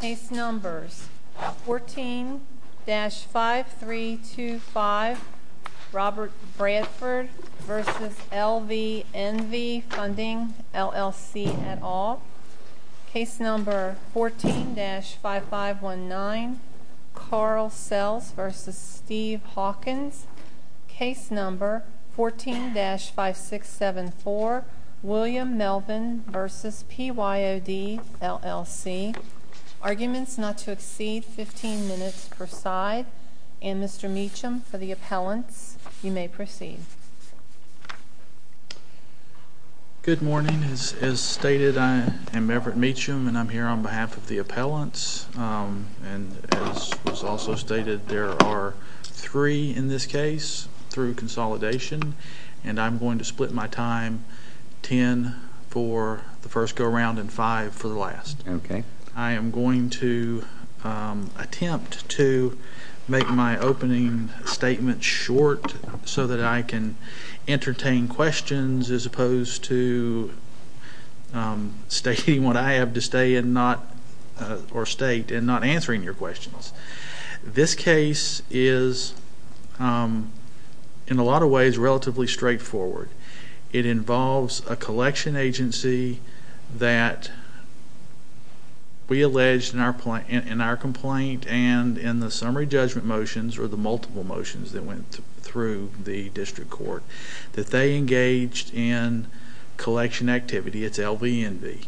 Case No. 14-5325 Robert Bradford v. LVNV Funding, LLC, et al. Case No. 14-5519 Carl Sells v. Steve Hawkins Case No. 14-5674 William Melvin v. PYOD, LLC Case No. 14-5674 William Melvin v. PYOD, LLC In a lot of ways, relatively straightforward. It involves a collection agency that we allege in our complaint and in the summary judgment motions, or the multiple motions that went through the district court, that they engaged in collection activity. It's LVNV.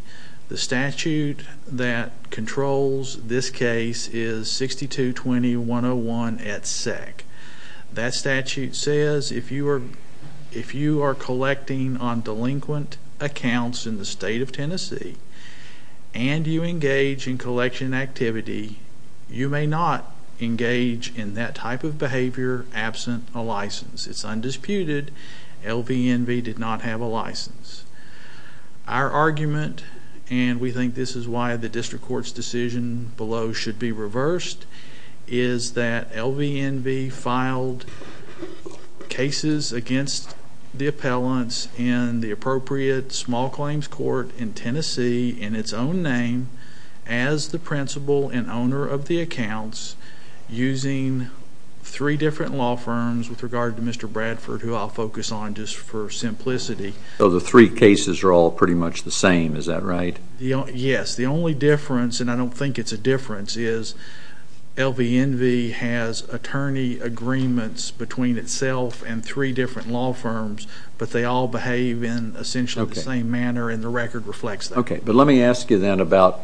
The statute that controls this case is 6221-101 at SEC. That statute says if you are collecting on delinquent accounts in the state of Tennessee, and you engage in collection activity, you may not engage in that type of behavior absent a license. It's undisputed. LVNV did not have a license. Our argument, and we think this is why the district court's decision below should be reversed, is that LVNV filed cases against the appellants in the appropriate small claims court in Tennessee, in its own name, as the principal and owner of the accounts, using three different law firms with regard to Mr. Bradford, who I'll focus on just for simplicity. So the three cases are all pretty much the same, is that right? Yes. The only difference, and I don't think it's a difference, is LVNV has attorney agreements between itself and three different law firms, but they all behave in essentially the same manner, and the record reflects that. Okay. But let me ask you then about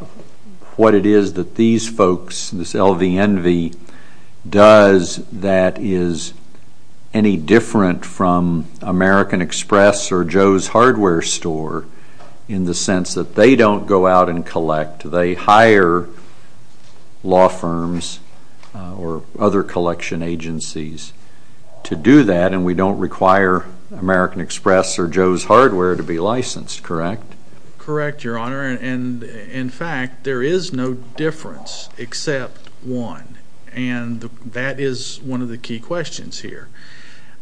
what it is that these folks, this LVNV, does that is any different from American Express or Joe's Hardware Store, in the sense that they don't go out and collect. They hire law firms or other collection agencies to do that, and we don't require American Express or Joe's Hardware to be licensed, correct? Correct, Your Honor, and in fact, there is no difference except one, and that is one of the key questions here.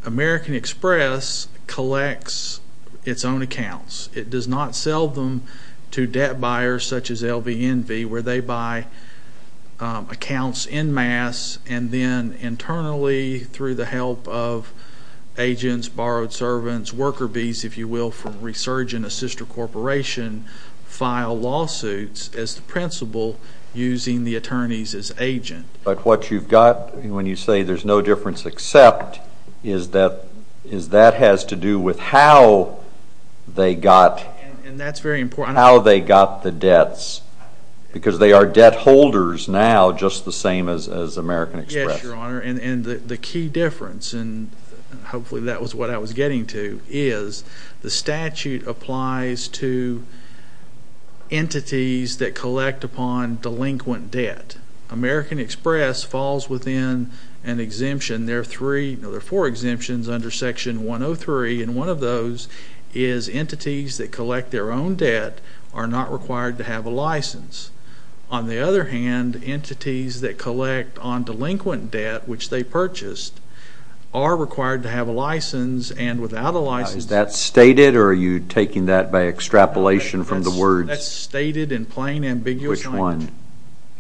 American Express collects its own accounts. It does not sell them to debt buyers such as LVNV, where they buy accounts in mass and then internally through the help of agents, borrowed servants, worker bees, if you will, from resurgent assister corporation, file lawsuits as the principal using the attorneys as agent. But what you've got, when you say there's no difference except, is that that has to do with how they got the debts, because they are debt holders now just the same as American Express. Yes, Your Honor, and the key difference, and hopefully that was what I was getting to, is the statute applies to entities that collect upon delinquent debt. American Express falls within an exemption. There are four exemptions under Section 103, and one of those is entities that collect their own debt are not required to have a license. On the other hand, entities that collect on delinquent debt, which they purchased, are required to have a license and without a license. Is that stated or are you taking that by extrapolation from the words? That's stated in plain, ambiguous language. Which one?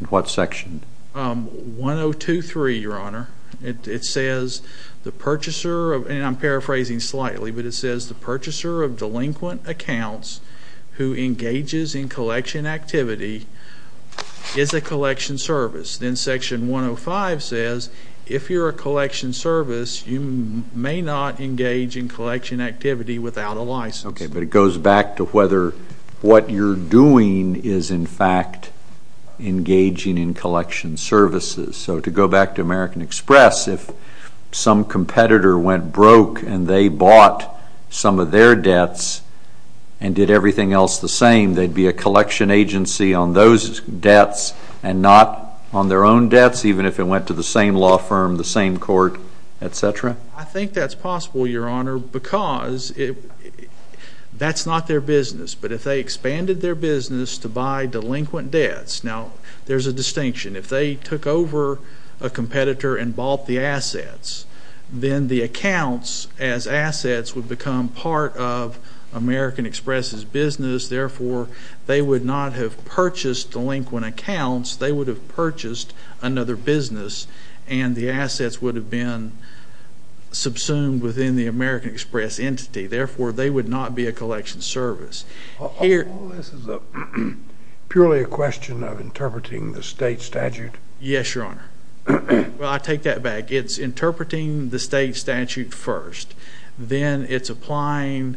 In what section? 103, Your Honor. It says the purchaser of, and I'm paraphrasing slightly, but it says the purchaser of delinquent accounts who engages in collection activity is a collection service. Then Section 105 says if you're a collection service, you may not engage in collection activity without a license. Okay, but it goes back to whether what you're doing is, in fact, engaging in collection services. So to go back to American Express, if some competitor went broke and they bought some of their debts and did everything else the same, they'd be a collection agency on those debts and not on their own debts, even if it went to the same law firm, the same court, et cetera? I think that's possible, Your Honor, because that's not their business. But if they expanded their business to buy delinquent debts, now there's a distinction. If they took over a competitor and bought the assets, then the accounts as assets would become part of American Express's business. Therefore, they would not have purchased delinquent accounts. They would have purchased another business, and the assets would have been subsumed within the American Express entity. Therefore, they would not be a collection service. All this is purely a question of interpreting the state statute? Yes, Your Honor. Well, I take that back. It's interpreting the state statute first. Then it's applying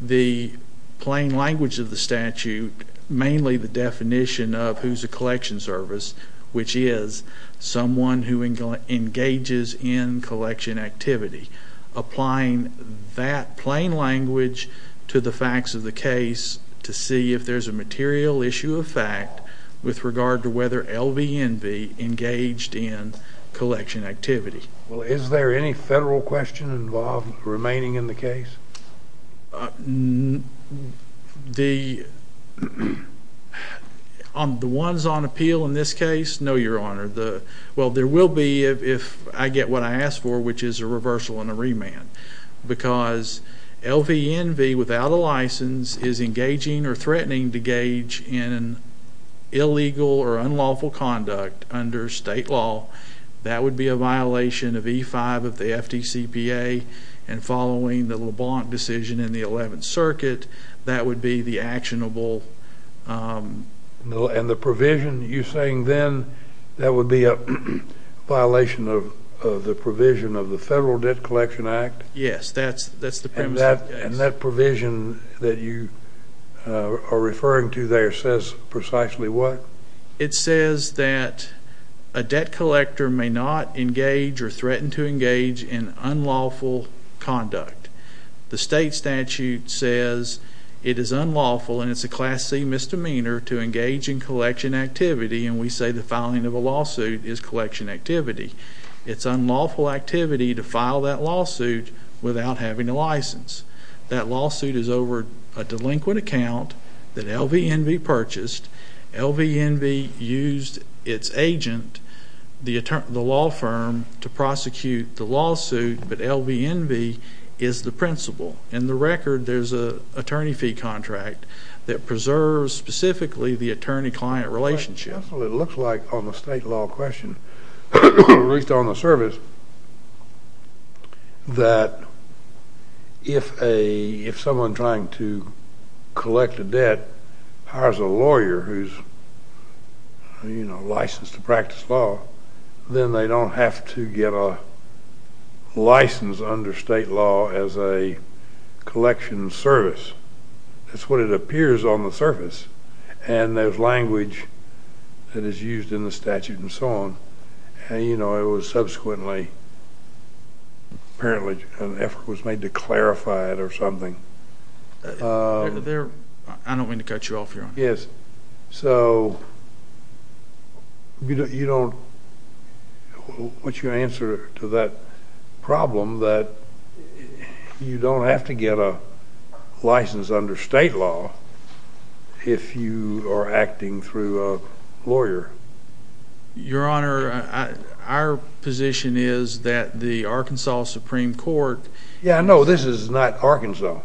the plain language of the statute, mainly the definition of who's a collection service, which is someone who engages in collection activity, applying that plain language to the facts of the case to see if there's a material issue of fact with regard to whether LVNV engaged in collection activity. Well, is there any federal question involved remaining in the case? The ones on appeal in this case, no, Your Honor. Well, there will be if I get what I ask for, which is a reversal and a remand. Because LVNV without a license is engaging or threatening to gauge in illegal or unlawful conduct under state law, that would be a violation of E-5 of the FDCPA, and following the LeBlanc decision in the 11th Circuit, that would be the actionable. And the provision you're saying then, that would be a violation of the provision of the Federal Debt Collection Act? Yes, that's the premise of the case. And that provision that you are referring to there says precisely what? It says that a debt collector may not engage or threaten to engage in unlawful conduct. The state statute says it is unlawful and it's a Class C misdemeanor to engage in collection activity, and we say the filing of a lawsuit is collection activity. It's unlawful activity to file that lawsuit without having a license. That lawsuit is over a delinquent account that LVNV purchased. LVNV used its agent, the law firm, to prosecute the lawsuit, but LVNV is the principal. In the record, there's an attorney fee contract that preserves specifically the attorney-client relationship. That's what it looks like on the state law question, at least on the service, that if someone trying to collect a debt hires a lawyer who's licensed to practice law, then they don't have to get a license under state law as a collection service. That's what it appears on the surface, and there's language that is used in the statute and so on. And, you know, it was subsequently apparently an effort was made to clarify it or something. I don't mean to cut you off, Your Honor. Yes. So what's your answer to that problem that you don't have to get a license under state law if you are acting through a lawyer? Your Honor, our position is that the Arkansas Supreme Court— Yeah, no, this is not Arkansas.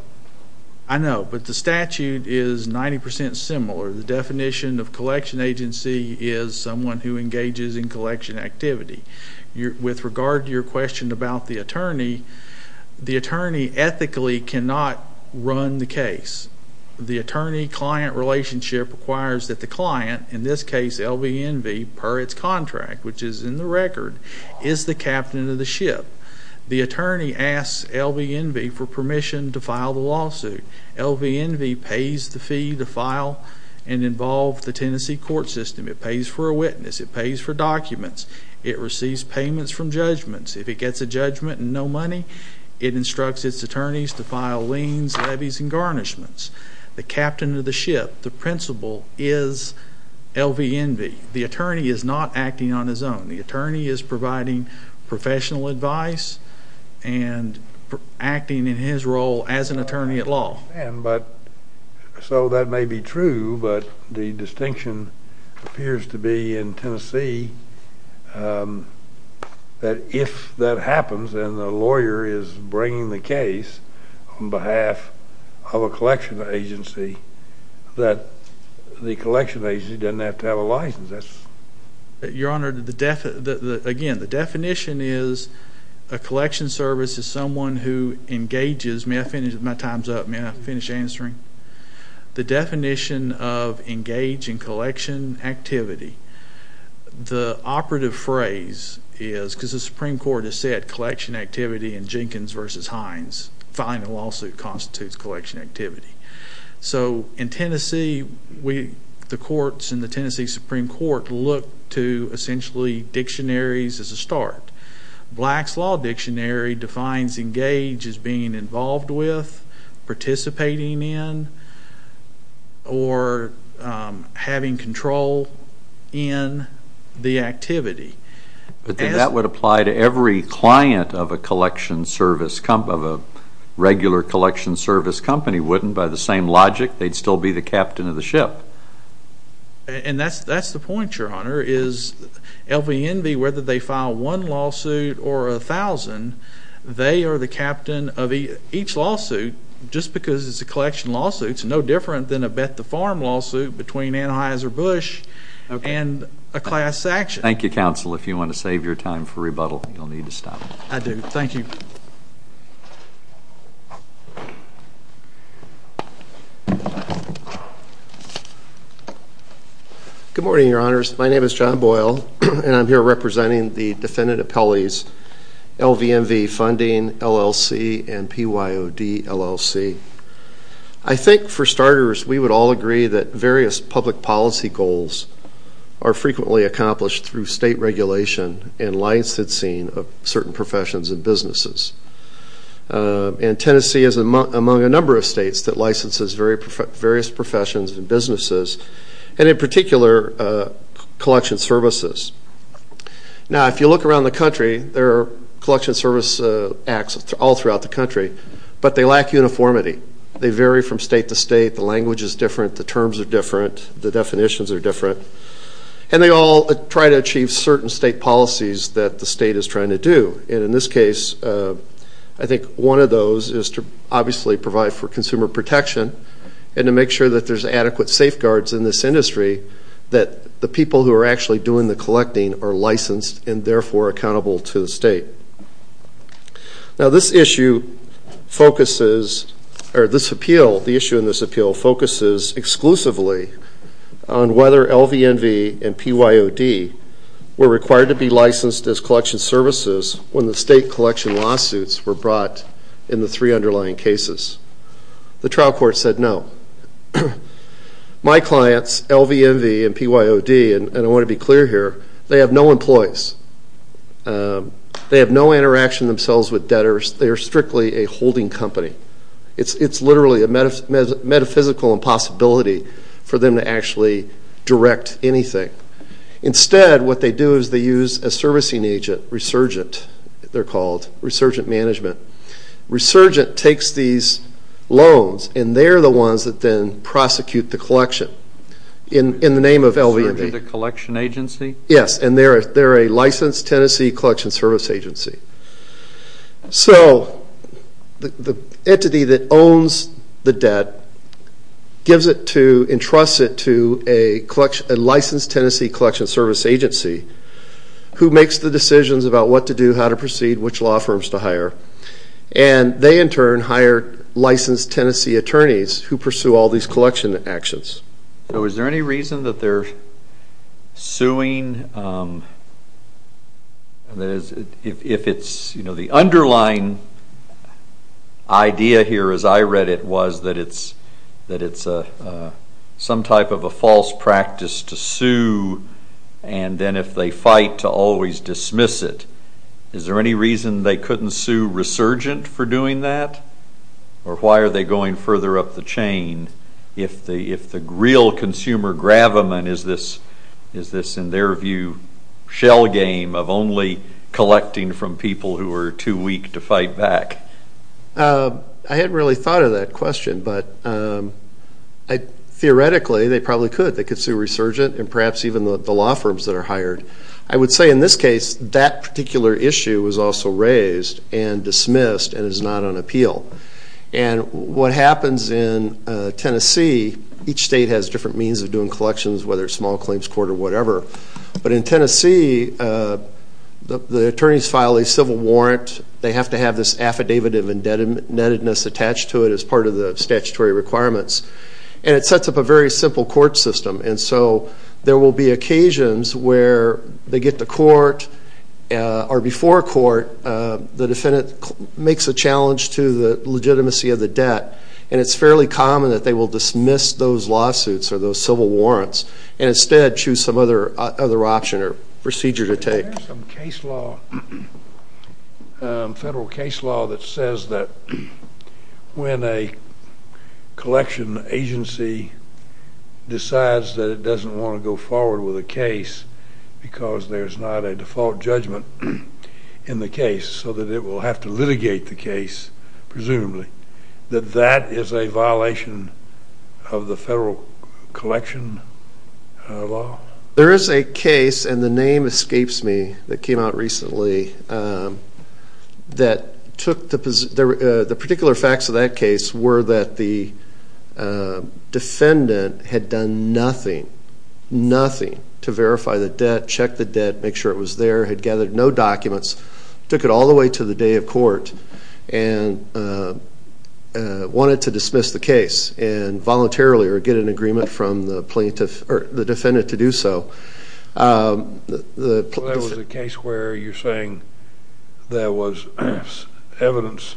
I know, but the statute is 90% similar. The definition of collection agency is someone who engages in collection activity. With regard to your question about the attorney, the attorney ethically cannot run the case. The attorney-client relationship requires that the client, in this case LVNV, per its contract, which is in the record, is the captain of the ship. The attorney asks LVNV for permission to file the lawsuit. LVNV pays the fee to file and involve the Tennessee court system. It pays for a witness. It pays for documents. It receives payments from judgments. If it gets a judgment and no money, it instructs its attorneys to file liens, levies, and garnishments. The captain of the ship, the principal, is LVNV. The attorney is not acting on his own. The attorney is providing professional advice and acting in his role as an attorney at law. So that may be true, but the distinction appears to be in Tennessee that if that happens and the lawyer is bringing the case on behalf of a collection agency, that the collection agency doesn't have to have a license. Your Honor, again, the definition is a collection service is someone who engages. May I finish? My time's up. May I finish answering? The definition of engage in collection activity. The operative phrase is, because the Supreme Court has said collection activity in Jenkins v. Hines, filing a lawsuit constitutes collection activity. So in Tennessee, the courts in the Tennessee Supreme Court look to essentially dictionaries as a start. Black's Law Dictionary defines engage as being involved with, participating in, or having control in the activity. But then that would apply to every client of a regular collection service company, wouldn't it? By the same logic, they'd still be the captain of the ship. LVNV, whether they file one lawsuit or 1,000, they are the captain of each lawsuit, just because it's a collection lawsuit. It's no different than a Beth to Farm lawsuit between Anheuser-Busch and a class action. Thank you, counsel. If you want to save your time for rebuttal, you'll need to stop. I do. Thank you. Good morning, Your Honors. My name is John Boyle, and I'm here representing the defendant appellees, LVNV Funding, LLC, and PYOD, LLC. I think for starters, we would all agree that various public policy goals are frequently accomplished through state regulation and licensing of certain professions and businesses. And Tennessee is among a number of states that licenses various professions and businesses, and in particular, collection services. Now, if you look around the country, there are collection service acts all throughout the country, but they lack uniformity. They vary from state to state. The language is different. The terms are different. The definitions are different. And they all try to achieve certain state policies that the state is trying to do. And in this case, I think one of those is to obviously provide for consumer protection and to make sure that there's adequate safeguards in this industry that the people who are actually doing the collecting are licensed and therefore accountable to the state. Now, this issue focuses, or this appeal, the issue in this appeal focuses exclusively on whether LVNV and PYOD were required to be licensed as collection services when the state collection lawsuits were brought in the three underlying cases. The trial court said no. My clients, LVNV and PYOD, and I want to be clear here, they have no employees. They have no interaction themselves with debtors. They are strictly a holding company. It's literally a metaphysical impossibility for them to actually direct anything. Instead, what they do is they use a servicing agent, resurgent, they're called, resurgent management. Resurgent takes these loans, and they're the ones that then prosecute the collection in the name of LVNV. Resurgent, the collection agency? Yes, and they're a licensed Tennessee collection service agency. So the entity that owns the debt gives it to, entrusts it to a licensed Tennessee collection service agency who makes the decisions about what to do, how to proceed, which law firms to hire. And they, in turn, hire licensed Tennessee attorneys who pursue all these collection actions. So is there any reason that they're suing? If it's, you know, the underlying idea here as I read it was that it's some type of a false practice to sue, and then if they fight to always dismiss it. Is there any reason they couldn't sue resurgent for doing that? Or why are they going further up the chain if the real consumer gravamen is this, in their view, shell game of only collecting from people who are too weak to fight back? I hadn't really thought of that question, but theoretically they probably could. They could sue resurgent and perhaps even the law firms that are hired. I would say in this case that particular issue was also raised and dismissed and is not on appeal. And what happens in Tennessee, each state has different means of doing collections, whether it's small claims court or whatever. But in Tennessee, the attorneys file a civil warrant. They have to have this affidavit of indebtedness attached to it as part of the statutory requirements. And it sets up a very simple court system. And so there will be occasions where they get to court or before court, the defendant makes a challenge to the legitimacy of the debt, and it's fairly common that they will dismiss those lawsuits or those civil warrants and instead choose some other option or procedure to take. Is there some case law, federal case law, that says that when a collection agency decides that it doesn't want to go forward with a case because there's not a default judgment in the case so that it will have to litigate the case, presumably, that that is a violation of the federal collection law? There is a case, and the name escapes me, that came out recently that took the position, the particular facts of that case were that the defendant had done nothing, nothing, to verify the debt, check the debt, make sure it was there, had gathered no documents, took it all the way to the day of court, and wanted to dismiss the case and voluntarily or get an agreement from the plaintiff or the defendant to do so. That was a case where you're saying there was evidence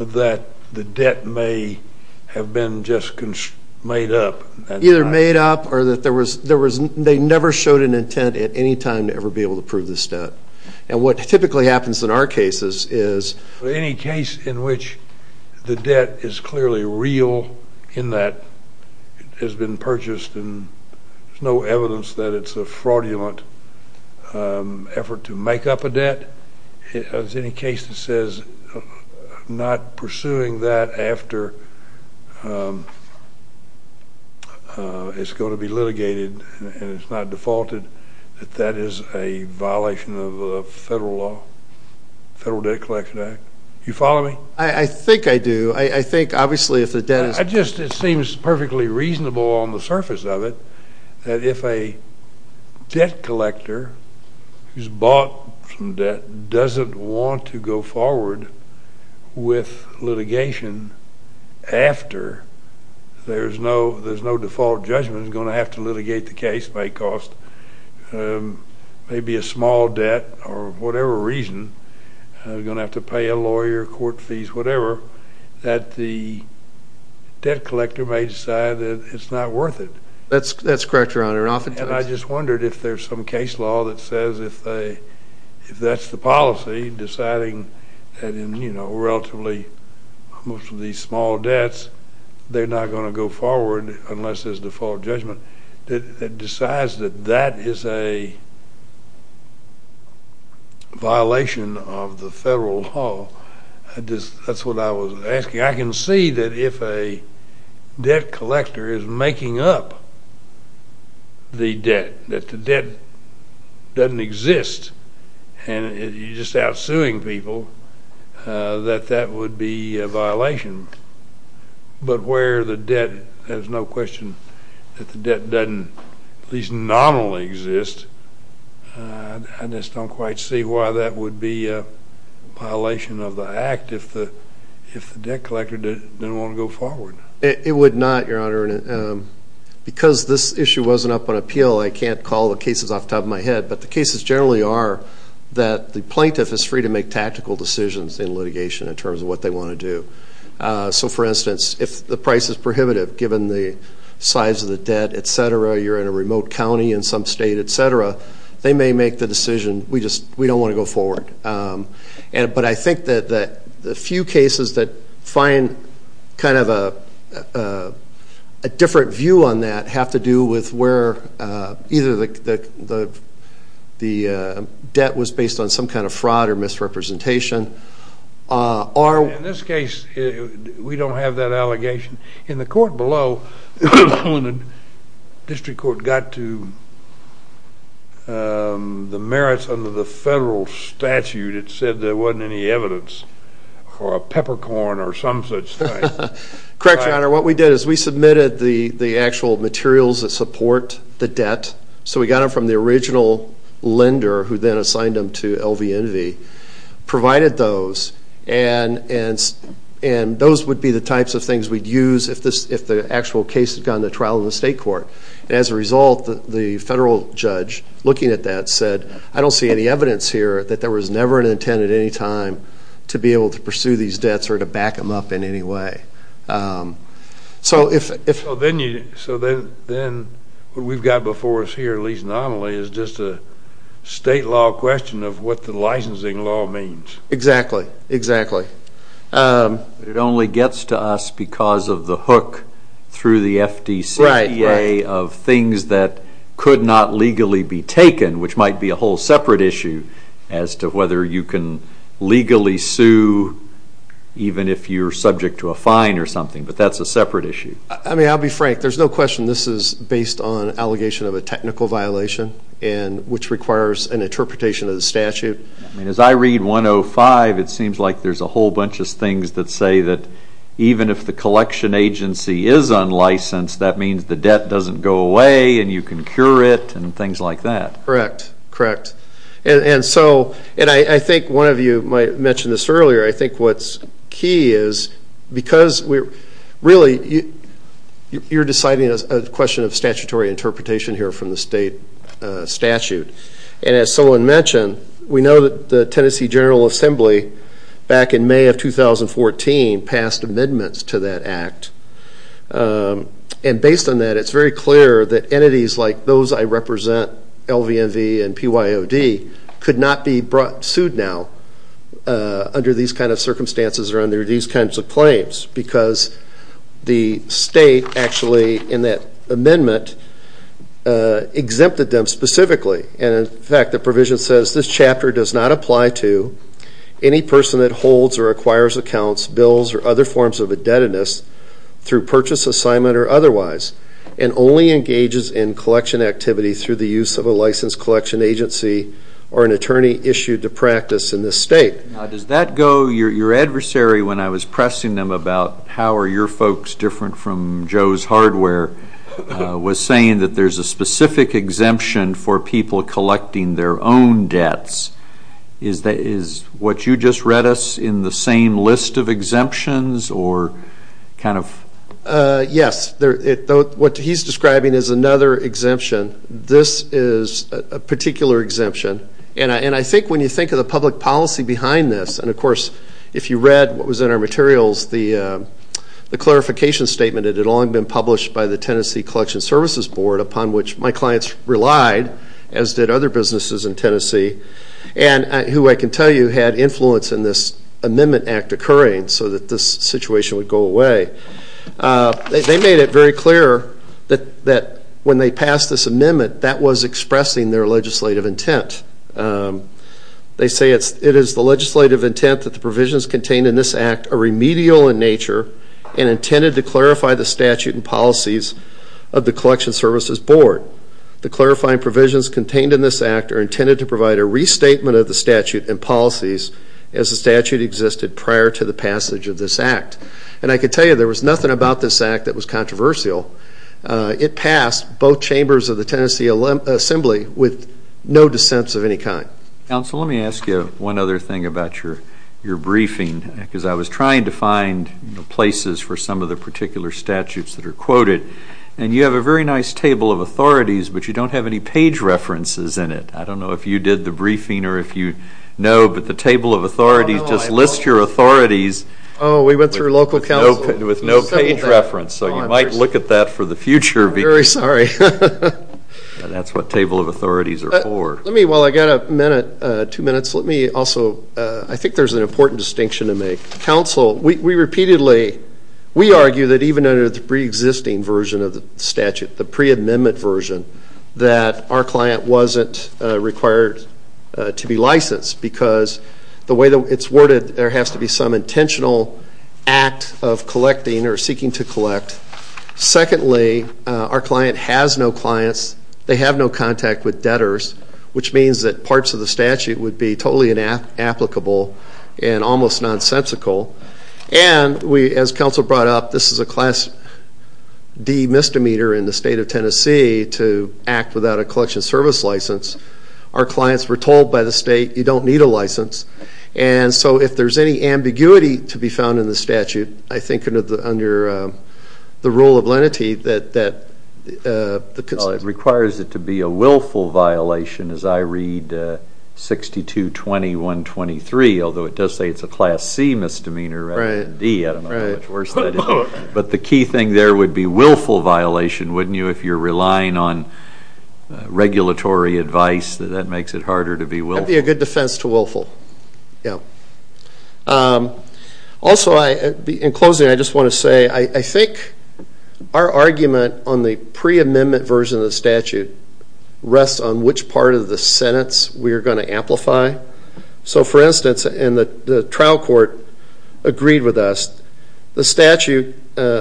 that the debt may have been just made up? Either made up or that there was, they never showed an intent at any time to ever be able to prove this debt. And what typically happens in our cases is... in that it has been purchased and there's no evidence that it's a fraudulent effort to make up a debt. If there's any case that says not pursuing that after it's going to be litigated and it's not defaulted, that that is a violation of federal law, the Federal Debt Collection Act. Do you follow me? I think I do. I think obviously if the debt is... I just, it seems perfectly reasonable on the surface of it that if a debt collector who's bought from debt doesn't want to go forward with litigation after there's no default judgment, is going to have to litigate the case, may cost maybe a small debt or whatever reason, going to have to pay a lawyer, court fees, whatever, that the debt collector may decide that it's not worth it. That's correct, Your Honor. Oftentimes... And I just wondered if there's some case law that says if that's the policy, deciding that in relatively most of these small debts, they're not going to go forward unless there's default judgment, that decides that that is a violation of the federal law. That's what I was asking. I can see that if a debt collector is making up the debt, that the debt doesn't exist, and you're just out suing people, that that would be a violation. But where the debt has no question that the debt doesn't at least nominally exist, I just don't quite see why that would be a violation of the act if the debt collector didn't want to go forward. It would not, Your Honor. Because this issue wasn't up on appeal, I can't call the cases off the top of my head. But the cases generally are that the plaintiff is free to make tactical decisions in litigation in terms of what they want to do. So, for instance, if the price is prohibitive given the size of the debt, et cetera, you're in a remote county in some state, et cetera, they may make the decision, we don't want to go forward. But I think that the few cases that find kind of a different view on that have to do with where either the debt was based on some kind of fraud or misrepresentation. In this case, we don't have that allegation. In the court below, when the district court got to the merits under the federal statute, it said there wasn't any evidence for a peppercorn or some such thing. Correct, Your Honor. What we did is we submitted the actual materials that support the debt. So we got them from the original lender who then assigned them to LVNV, provided those, and those would be the types of things we'd use if the actual case had gone to trial in the state court. As a result, the federal judge looking at that said, I don't see any evidence here that there was never an intent at any time to be able to pursue these debts or to back them up in any way. So then what we've got before us here, at least nominally, is just a state law question of what the licensing law means. Exactly, exactly. It only gets to us because of the hook through the FDCPA of things that could not legally be taken, which might be a whole separate issue as to whether you can legally sue even if you're subject to a fine or something, but that's a separate issue. I'll be frank. There's no question this is based on allegation of a technical violation which requires an interpretation of the statute. As I read 105, it seems like there's a whole bunch of things that say that even if the collection agency is unlicensed, that means the debt doesn't go away and you can cure it and things like that. Correct, correct. I think one of you might have mentioned this earlier. I think what's key is because really you're deciding a question of statutory interpretation here from the state statute. As someone mentioned, we know that the Tennessee General Assembly, back in May of 2014, passed amendments to that act. Based on that, it's very clear that entities like those I represent, LVNV and PYOD, could not be brought to suit now under these kinds of circumstances or under these kinds of claims because the state actually in that amendment exempted them specifically. In fact, the provision says this chapter does not apply to any person that holds or acquires accounts, bills, or other forms of indebtedness through purchase, assignment, or otherwise and only engages in collection activity through the use of a licensed collection agency or an attorney issued to practice in this state. Now, does that go? Your adversary, when I was pressing them about how are your folks different from Joe's hardware, was saying that there's a specific exemption for people collecting their own debts. Is what you just read us in the same list of exemptions or kind of? Yes. What he's describing is another exemption. This is a particular exemption. And I think when you think of the public policy behind this, and of course if you read what was in our materials, the clarification statement, it had long been published by the Tennessee Collection Services Board, upon which my clients relied, as did other businesses in Tennessee, and who I can tell you had influence in this amendment act occurring so that this situation would go away. They made it very clear that when they passed this amendment, that was expressing their legislative intent. They say it is the legislative intent that the provisions contained in this act are remedial in nature and intended to clarify the statute and policies of the Collection Services Board. The clarifying provisions contained in this act are intended to provide a restatement of the statute and policies as the statute existed prior to the passage of this act. And I can tell you there was nothing about this act that was controversial. It passed both chambers of the Tennessee Assembly with no dissents of any kind. Council, let me ask you one other thing about your briefing, because I was trying to find places for some of the particular statutes that are quoted. And you have a very nice table of authorities, but you don't have any page references in it. I don't know if you did the briefing or if you know, but the table of authorities, just list your authorities with no page reference. So you might look at that for the future. I'm very sorry. That's what table of authorities are for. Let me, while I've got a minute, two minutes, let me also, I think there's an important distinction to make. Council, we repeatedly, we argue that even under the preexisting version of the statute, the pre-amendment version, that our client wasn't required to be licensed because the way it's worded, there has to be some intentional act of collecting or seeking to collect. Secondly, our client has no clients. They have no contact with debtors, which means that parts of the statute would be totally inapplicable and almost nonsensical. And as Council brought up, this is a class D misdemeanor in the state of Tennessee to act without a collection service license. Our clients were told by the state, you don't need a license. And so if there's any ambiguity to be found in the statute, I think under the rule of lenity that the consent. Well, it requires it to be a willful violation, as I read 6221.23, although it does say it's a class C misdemeanor rather than D. I don't know how much worse that is. But the key thing there would be willful violation, wouldn't you, if you're relying on regulatory advice, that that makes it harder to be willful. That would be a good defense to willful, yeah. Also, in closing, I just want to say, I think our argument on the pre-amendment version of the statute rests on which part of the sentence we are going to amplify. So, for instance, and the trial court agreed with us, the statute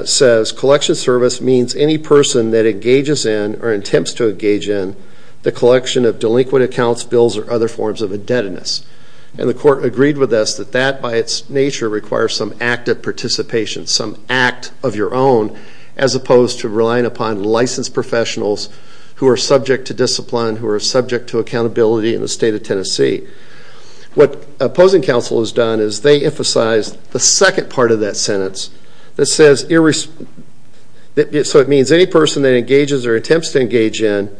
says collection service means any person that engages in or attempts to engage in the collection of delinquent accounts, bills, or other forms of indebtedness. And the court agreed with us that that, by its nature, requires some active participation, some act of your own, as opposed to relying upon licensed professionals who are subject to discipline, who are subject to accountability in the state of Tennessee. What opposing counsel has done is they emphasized the second part of that sentence that says, so it means any person that engages or attempts to engage in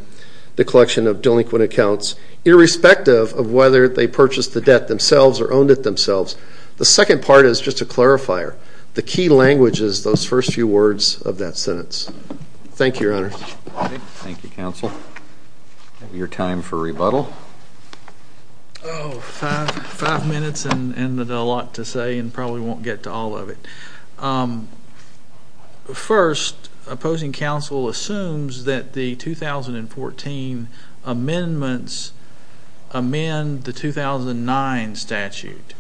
the collection of delinquent accounts, irrespective of whether they purchased the debt themselves or owned it themselves, the second part is just a clarifier. The key language is those first few words of that sentence. Thank you, Your Honor. Thank you, counsel. Your time for rebuttal. Five minutes and a lot to say and probably won't get to all of it. First, opposing counsel assumes that the 2014 amendments amend the 2009 statute.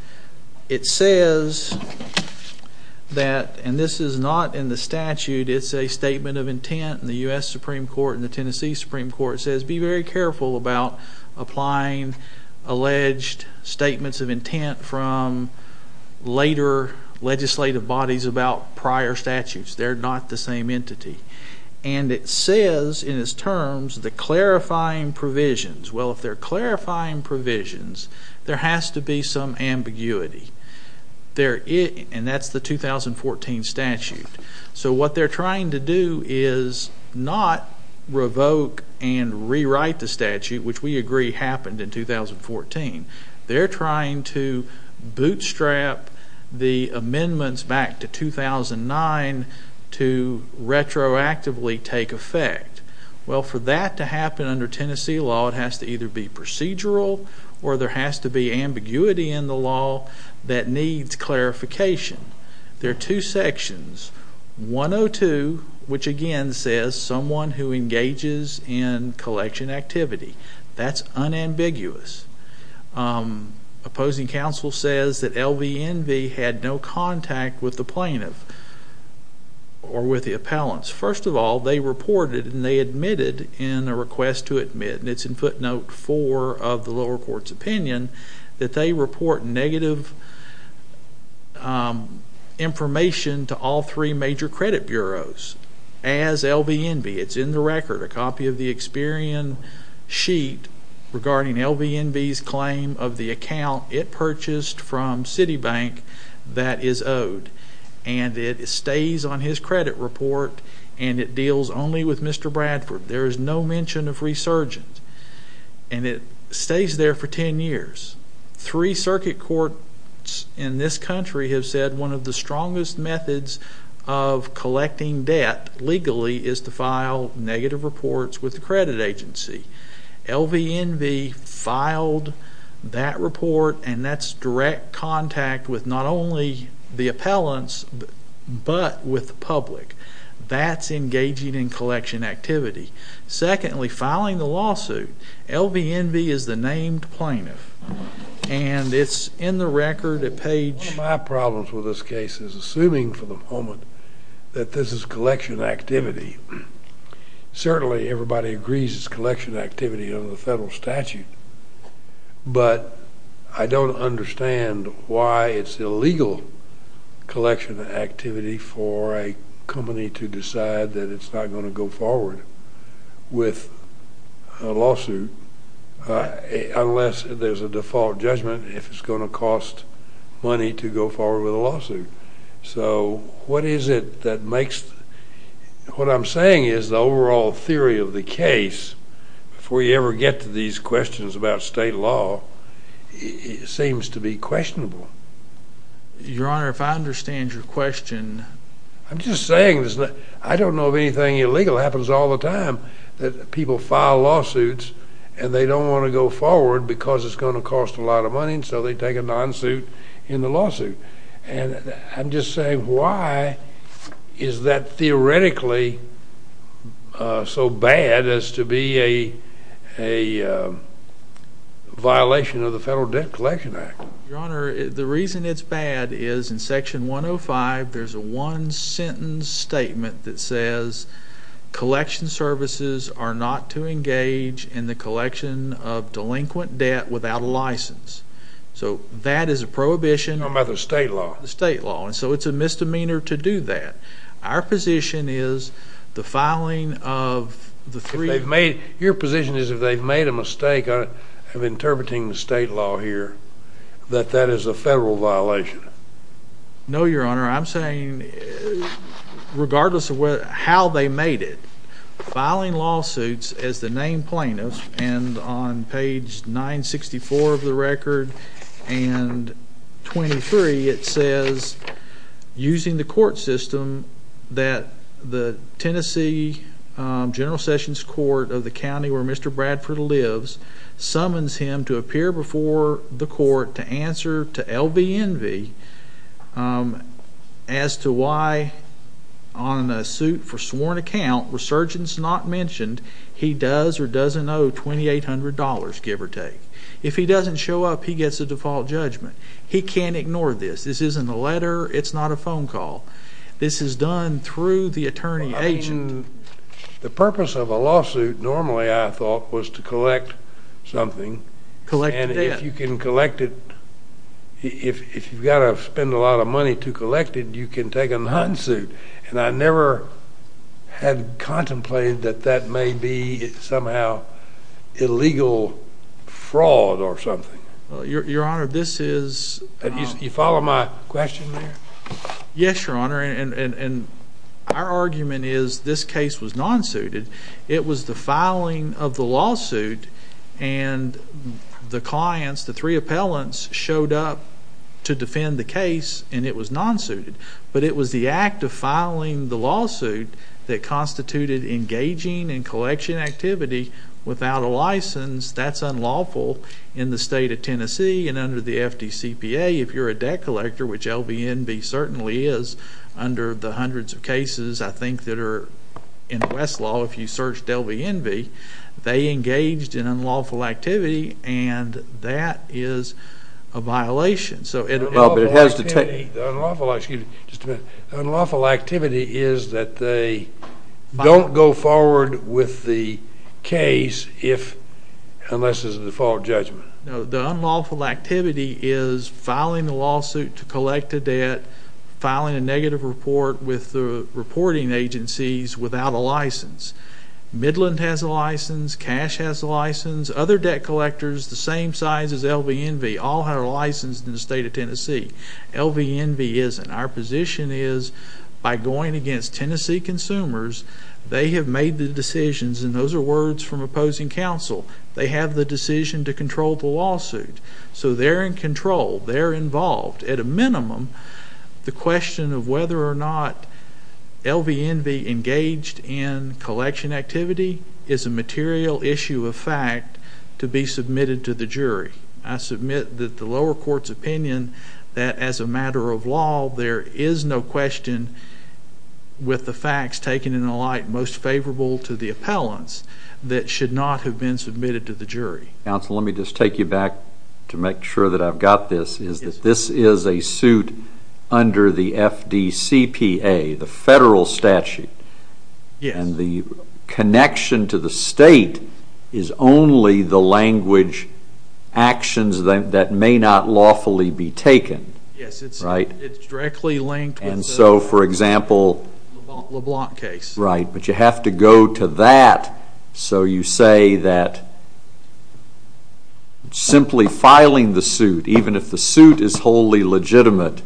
It says that, and this is not in the statute, it's a statement of intent, and the U.S. Supreme Court and the Tennessee Supreme Court says be very careful about applying alleged statements of intent from later legislative bodies about prior statutes. They're not the same entity. And it says in its terms the clarifying provisions. Well, if they're clarifying provisions, there has to be some ambiguity. And that's the 2014 statute. So what they're trying to do is not revoke and rewrite the statute, which we agree happened in 2014. They're trying to bootstrap the amendments back to 2009 to retroactively take effect. Well, for that to happen under Tennessee law, it has to either be procedural or there has to be ambiguity in the law that needs clarification. There are two sections. 102, which again says someone who engages in collection activity. That's unambiguous. Opposing counsel says that LVNV had no contact with the plaintiff or with the appellants. First of all, they reported and they admitted in a request to admit, and it's in footnote 4 of the lower court's opinion, that they report negative information to all three major credit bureaus as LVNV. It's in the record, a copy of the Experian sheet, regarding LVNV's claim of the account it purchased from Citibank that is owed. And it stays on his credit report and it deals only with Mr. Bradford. There is no mention of resurgence. And it stays there for ten years. Three circuit courts in this country have said one of the strongest methods of collecting debt legally is to file negative reports with the credit agency. LVNV filed that report, and that's direct contact with not only the appellants but with the public. That's engaging in collection activity. Secondly, filing the lawsuit, LVNV is the named plaintiff. One of my problems with this case is assuming for the moment that this is collection activity. Certainly everybody agrees it's collection activity under the federal statute, but I don't understand why it's illegal collection activity for a company to decide that it's not going to go forward with a lawsuit unless there's a default judgment. If it's going to cost money to go forward with a lawsuit. So what is it that makes, what I'm saying is the overall theory of the case, before you ever get to these questions about state law, seems to be questionable. Your Honor, if I understand your question. I'm just saying, I don't know if anything illegal happens all the time. People file lawsuits, and they don't want to go forward because it's going to cost a lot of money, and so they take a non-suit in the lawsuit. And I'm just saying, why is that theoretically so bad as to be a violation of the Federal Debt Collection Act? Your Honor, the reason it's bad is in section 105, there's a one-sentence statement that says, collection services are not to engage in the collection of delinquent debt without a license. So that is a prohibition. I'm talking about the state law. The state law. And so it's a misdemeanor to do that. Our position is the filing of the three. Your position is if they've made a mistake of interpreting the state law here, that that is a federal violation. No, Your Honor. I'm saying, regardless of how they made it, filing lawsuits as the named plaintiff, and on page 964 of the record and 23, it says, using the court system, that the Tennessee General Sessions Court of the county where Mr. Bradford lives, summons him to appear before the court to answer to LBNV as to why, on a suit for sworn account, resurgence not mentioned, he does or doesn't owe $2,800, give or take. If he doesn't show up, he gets a default judgment. He can't ignore this. This isn't a letter. It's not a phone call. This is done through the attorney-agent. The purpose of a lawsuit, normally, I thought, was to collect something. Collect the debt. And if you can collect it, if you've got to spend a lot of money to collect it, you can take a non-suit. And I never had contemplated that that may be somehow illegal fraud or something. Your Honor, this is— You follow my question there? Yes, Your Honor. Our argument is this case was non-suited. It was the filing of the lawsuit, and the clients, the three appellants, showed up to defend the case, and it was non-suited. But it was the act of filing the lawsuit that constituted engaging in collection activity without a license. That's unlawful in the state of Tennessee and under the FDCPA. If you're a debt collector, which LVNV certainly is under the hundreds of cases, I think, that are in Westlaw, if you searched LVNV, they engaged in unlawful activity, and that is a violation. Unlawful activity is that they don't go forward with the case unless there's a default judgment. The unlawful activity is filing a lawsuit to collect a debt, filing a negative report with the reporting agencies without a license. Midland has a license. Cash has a license. Other debt collectors the same size as LVNV all have a license in the state of Tennessee. LVNV isn't. Our position is by going against Tennessee consumers, they have made the decisions, and those are words from opposing counsel. They have the decision to control the lawsuit. So they're in control. They're involved. At a minimum, the question of whether or not LVNV engaged in collection activity is a material issue of fact to be submitted to the jury. I submit that the lower court's opinion that as a matter of law there is no question with the facts taken in a light most favorable to the appellants that should not have been submitted to the jury. Counsel, let me just take you back to make sure that I've got this. This is a suit under the FDCPA, the federal statute. And the connection to the state is only the language actions that may not lawfully be taken. Yes, it's directly linked with the LeBlanc case. Right, but you have to go to that. So you say that simply filing the suit, even if the suit is wholly legitimate,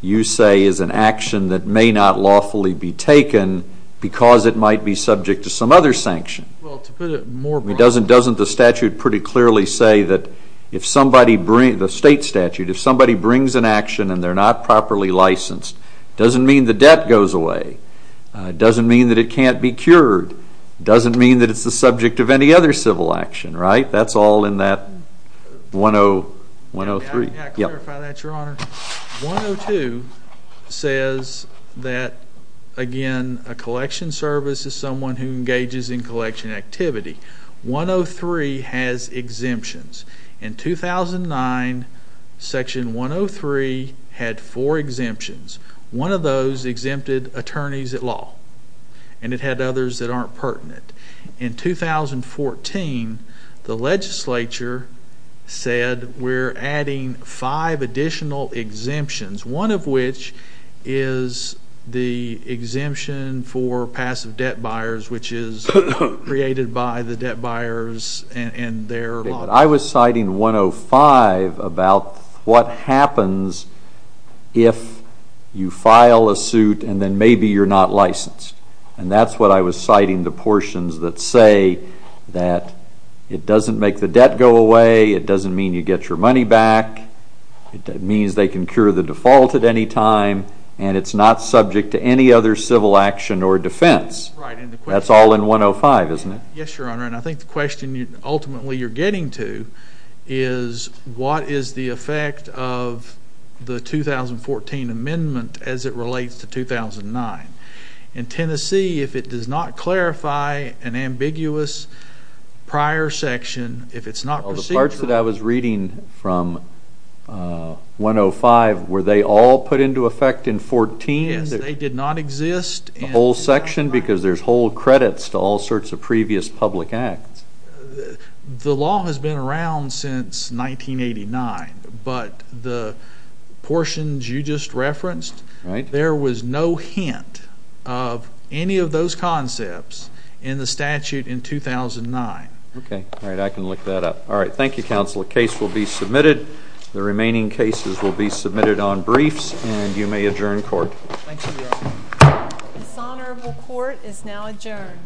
you say is an action that may not lawfully be taken because it might be subject to some other sanction. Well, to put it more broadly. Doesn't the statute pretty clearly say that the state statute, if somebody brings an action and they're not properly licensed, it doesn't mean the debt goes away. It doesn't mean that it can't be cured. It doesn't mean that it's the subject of any other civil action, right? That's all in that 103. I'll clarify that, Your Honor. 102 says that, again, a collection service is someone who engages in collection activity. 103 has exemptions. In 2009, section 103 had four exemptions. One of those exempted attorneys at law. And it had others that aren't pertinent. In 2014, the legislature said we're adding five additional exemptions, one of which is the exemption for passive debt buyers, which is created by the debt buyers and their law. I was citing 105 about what happens if you file a suit and then maybe you're not licensed. And that's what I was citing, the portions that say that it doesn't make the debt go away. It doesn't mean you get your money back. It means they can cure the default at any time. And it's not subject to any other civil action or defense. That's all in 105, isn't it? Yes, Your Honor. And I think the question ultimately you're getting to is what is the effect of the 2014 amendment as it relates to 2009? In Tennessee, if it does not clarify an ambiguous prior section, if it's not procedural. All the parts that I was reading from 105, were they all put into effect in 14? Yes, they did not exist. The whole section? Because there's whole credits to all sorts of previous public acts. The law has been around since 1989, but the portions you just referenced, there was no hint of any of those concepts in the statute in 2009. Okay. All right. I can look that up. All right. Thank you, Counsel. The case will be submitted. The remaining cases will be submitted on briefs, and you may adjourn court. Dishonorable court is now adjourned.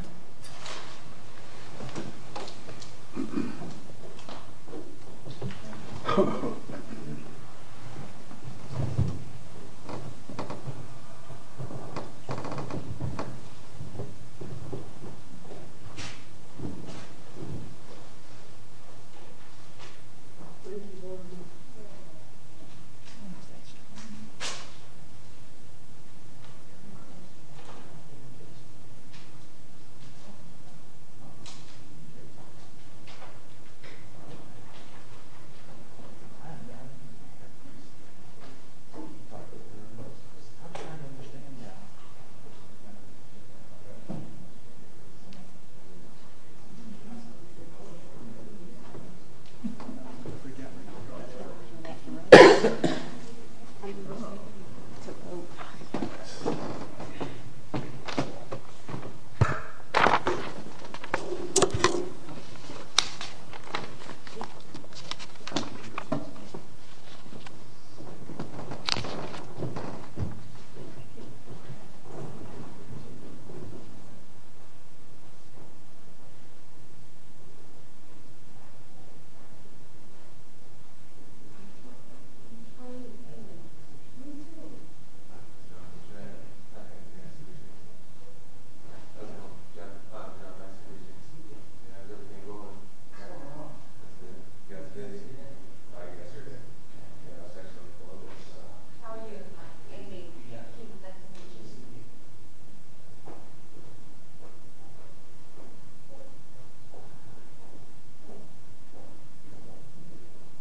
Thank you. Thank you. Counsel, should I have a comment? I think you have to. I don't know. Do you have a comment? I don't have a comment. I don't know. Do you have a opinion? I don't know. You have a opinion? I guess you're good. I guess you're good. I was actually looking for a little bit of a comment. How are you? I'm Amy. Please, let me know. Please do. Thank you. Thank you. Thank you. Thank you. Thank you. Thank you.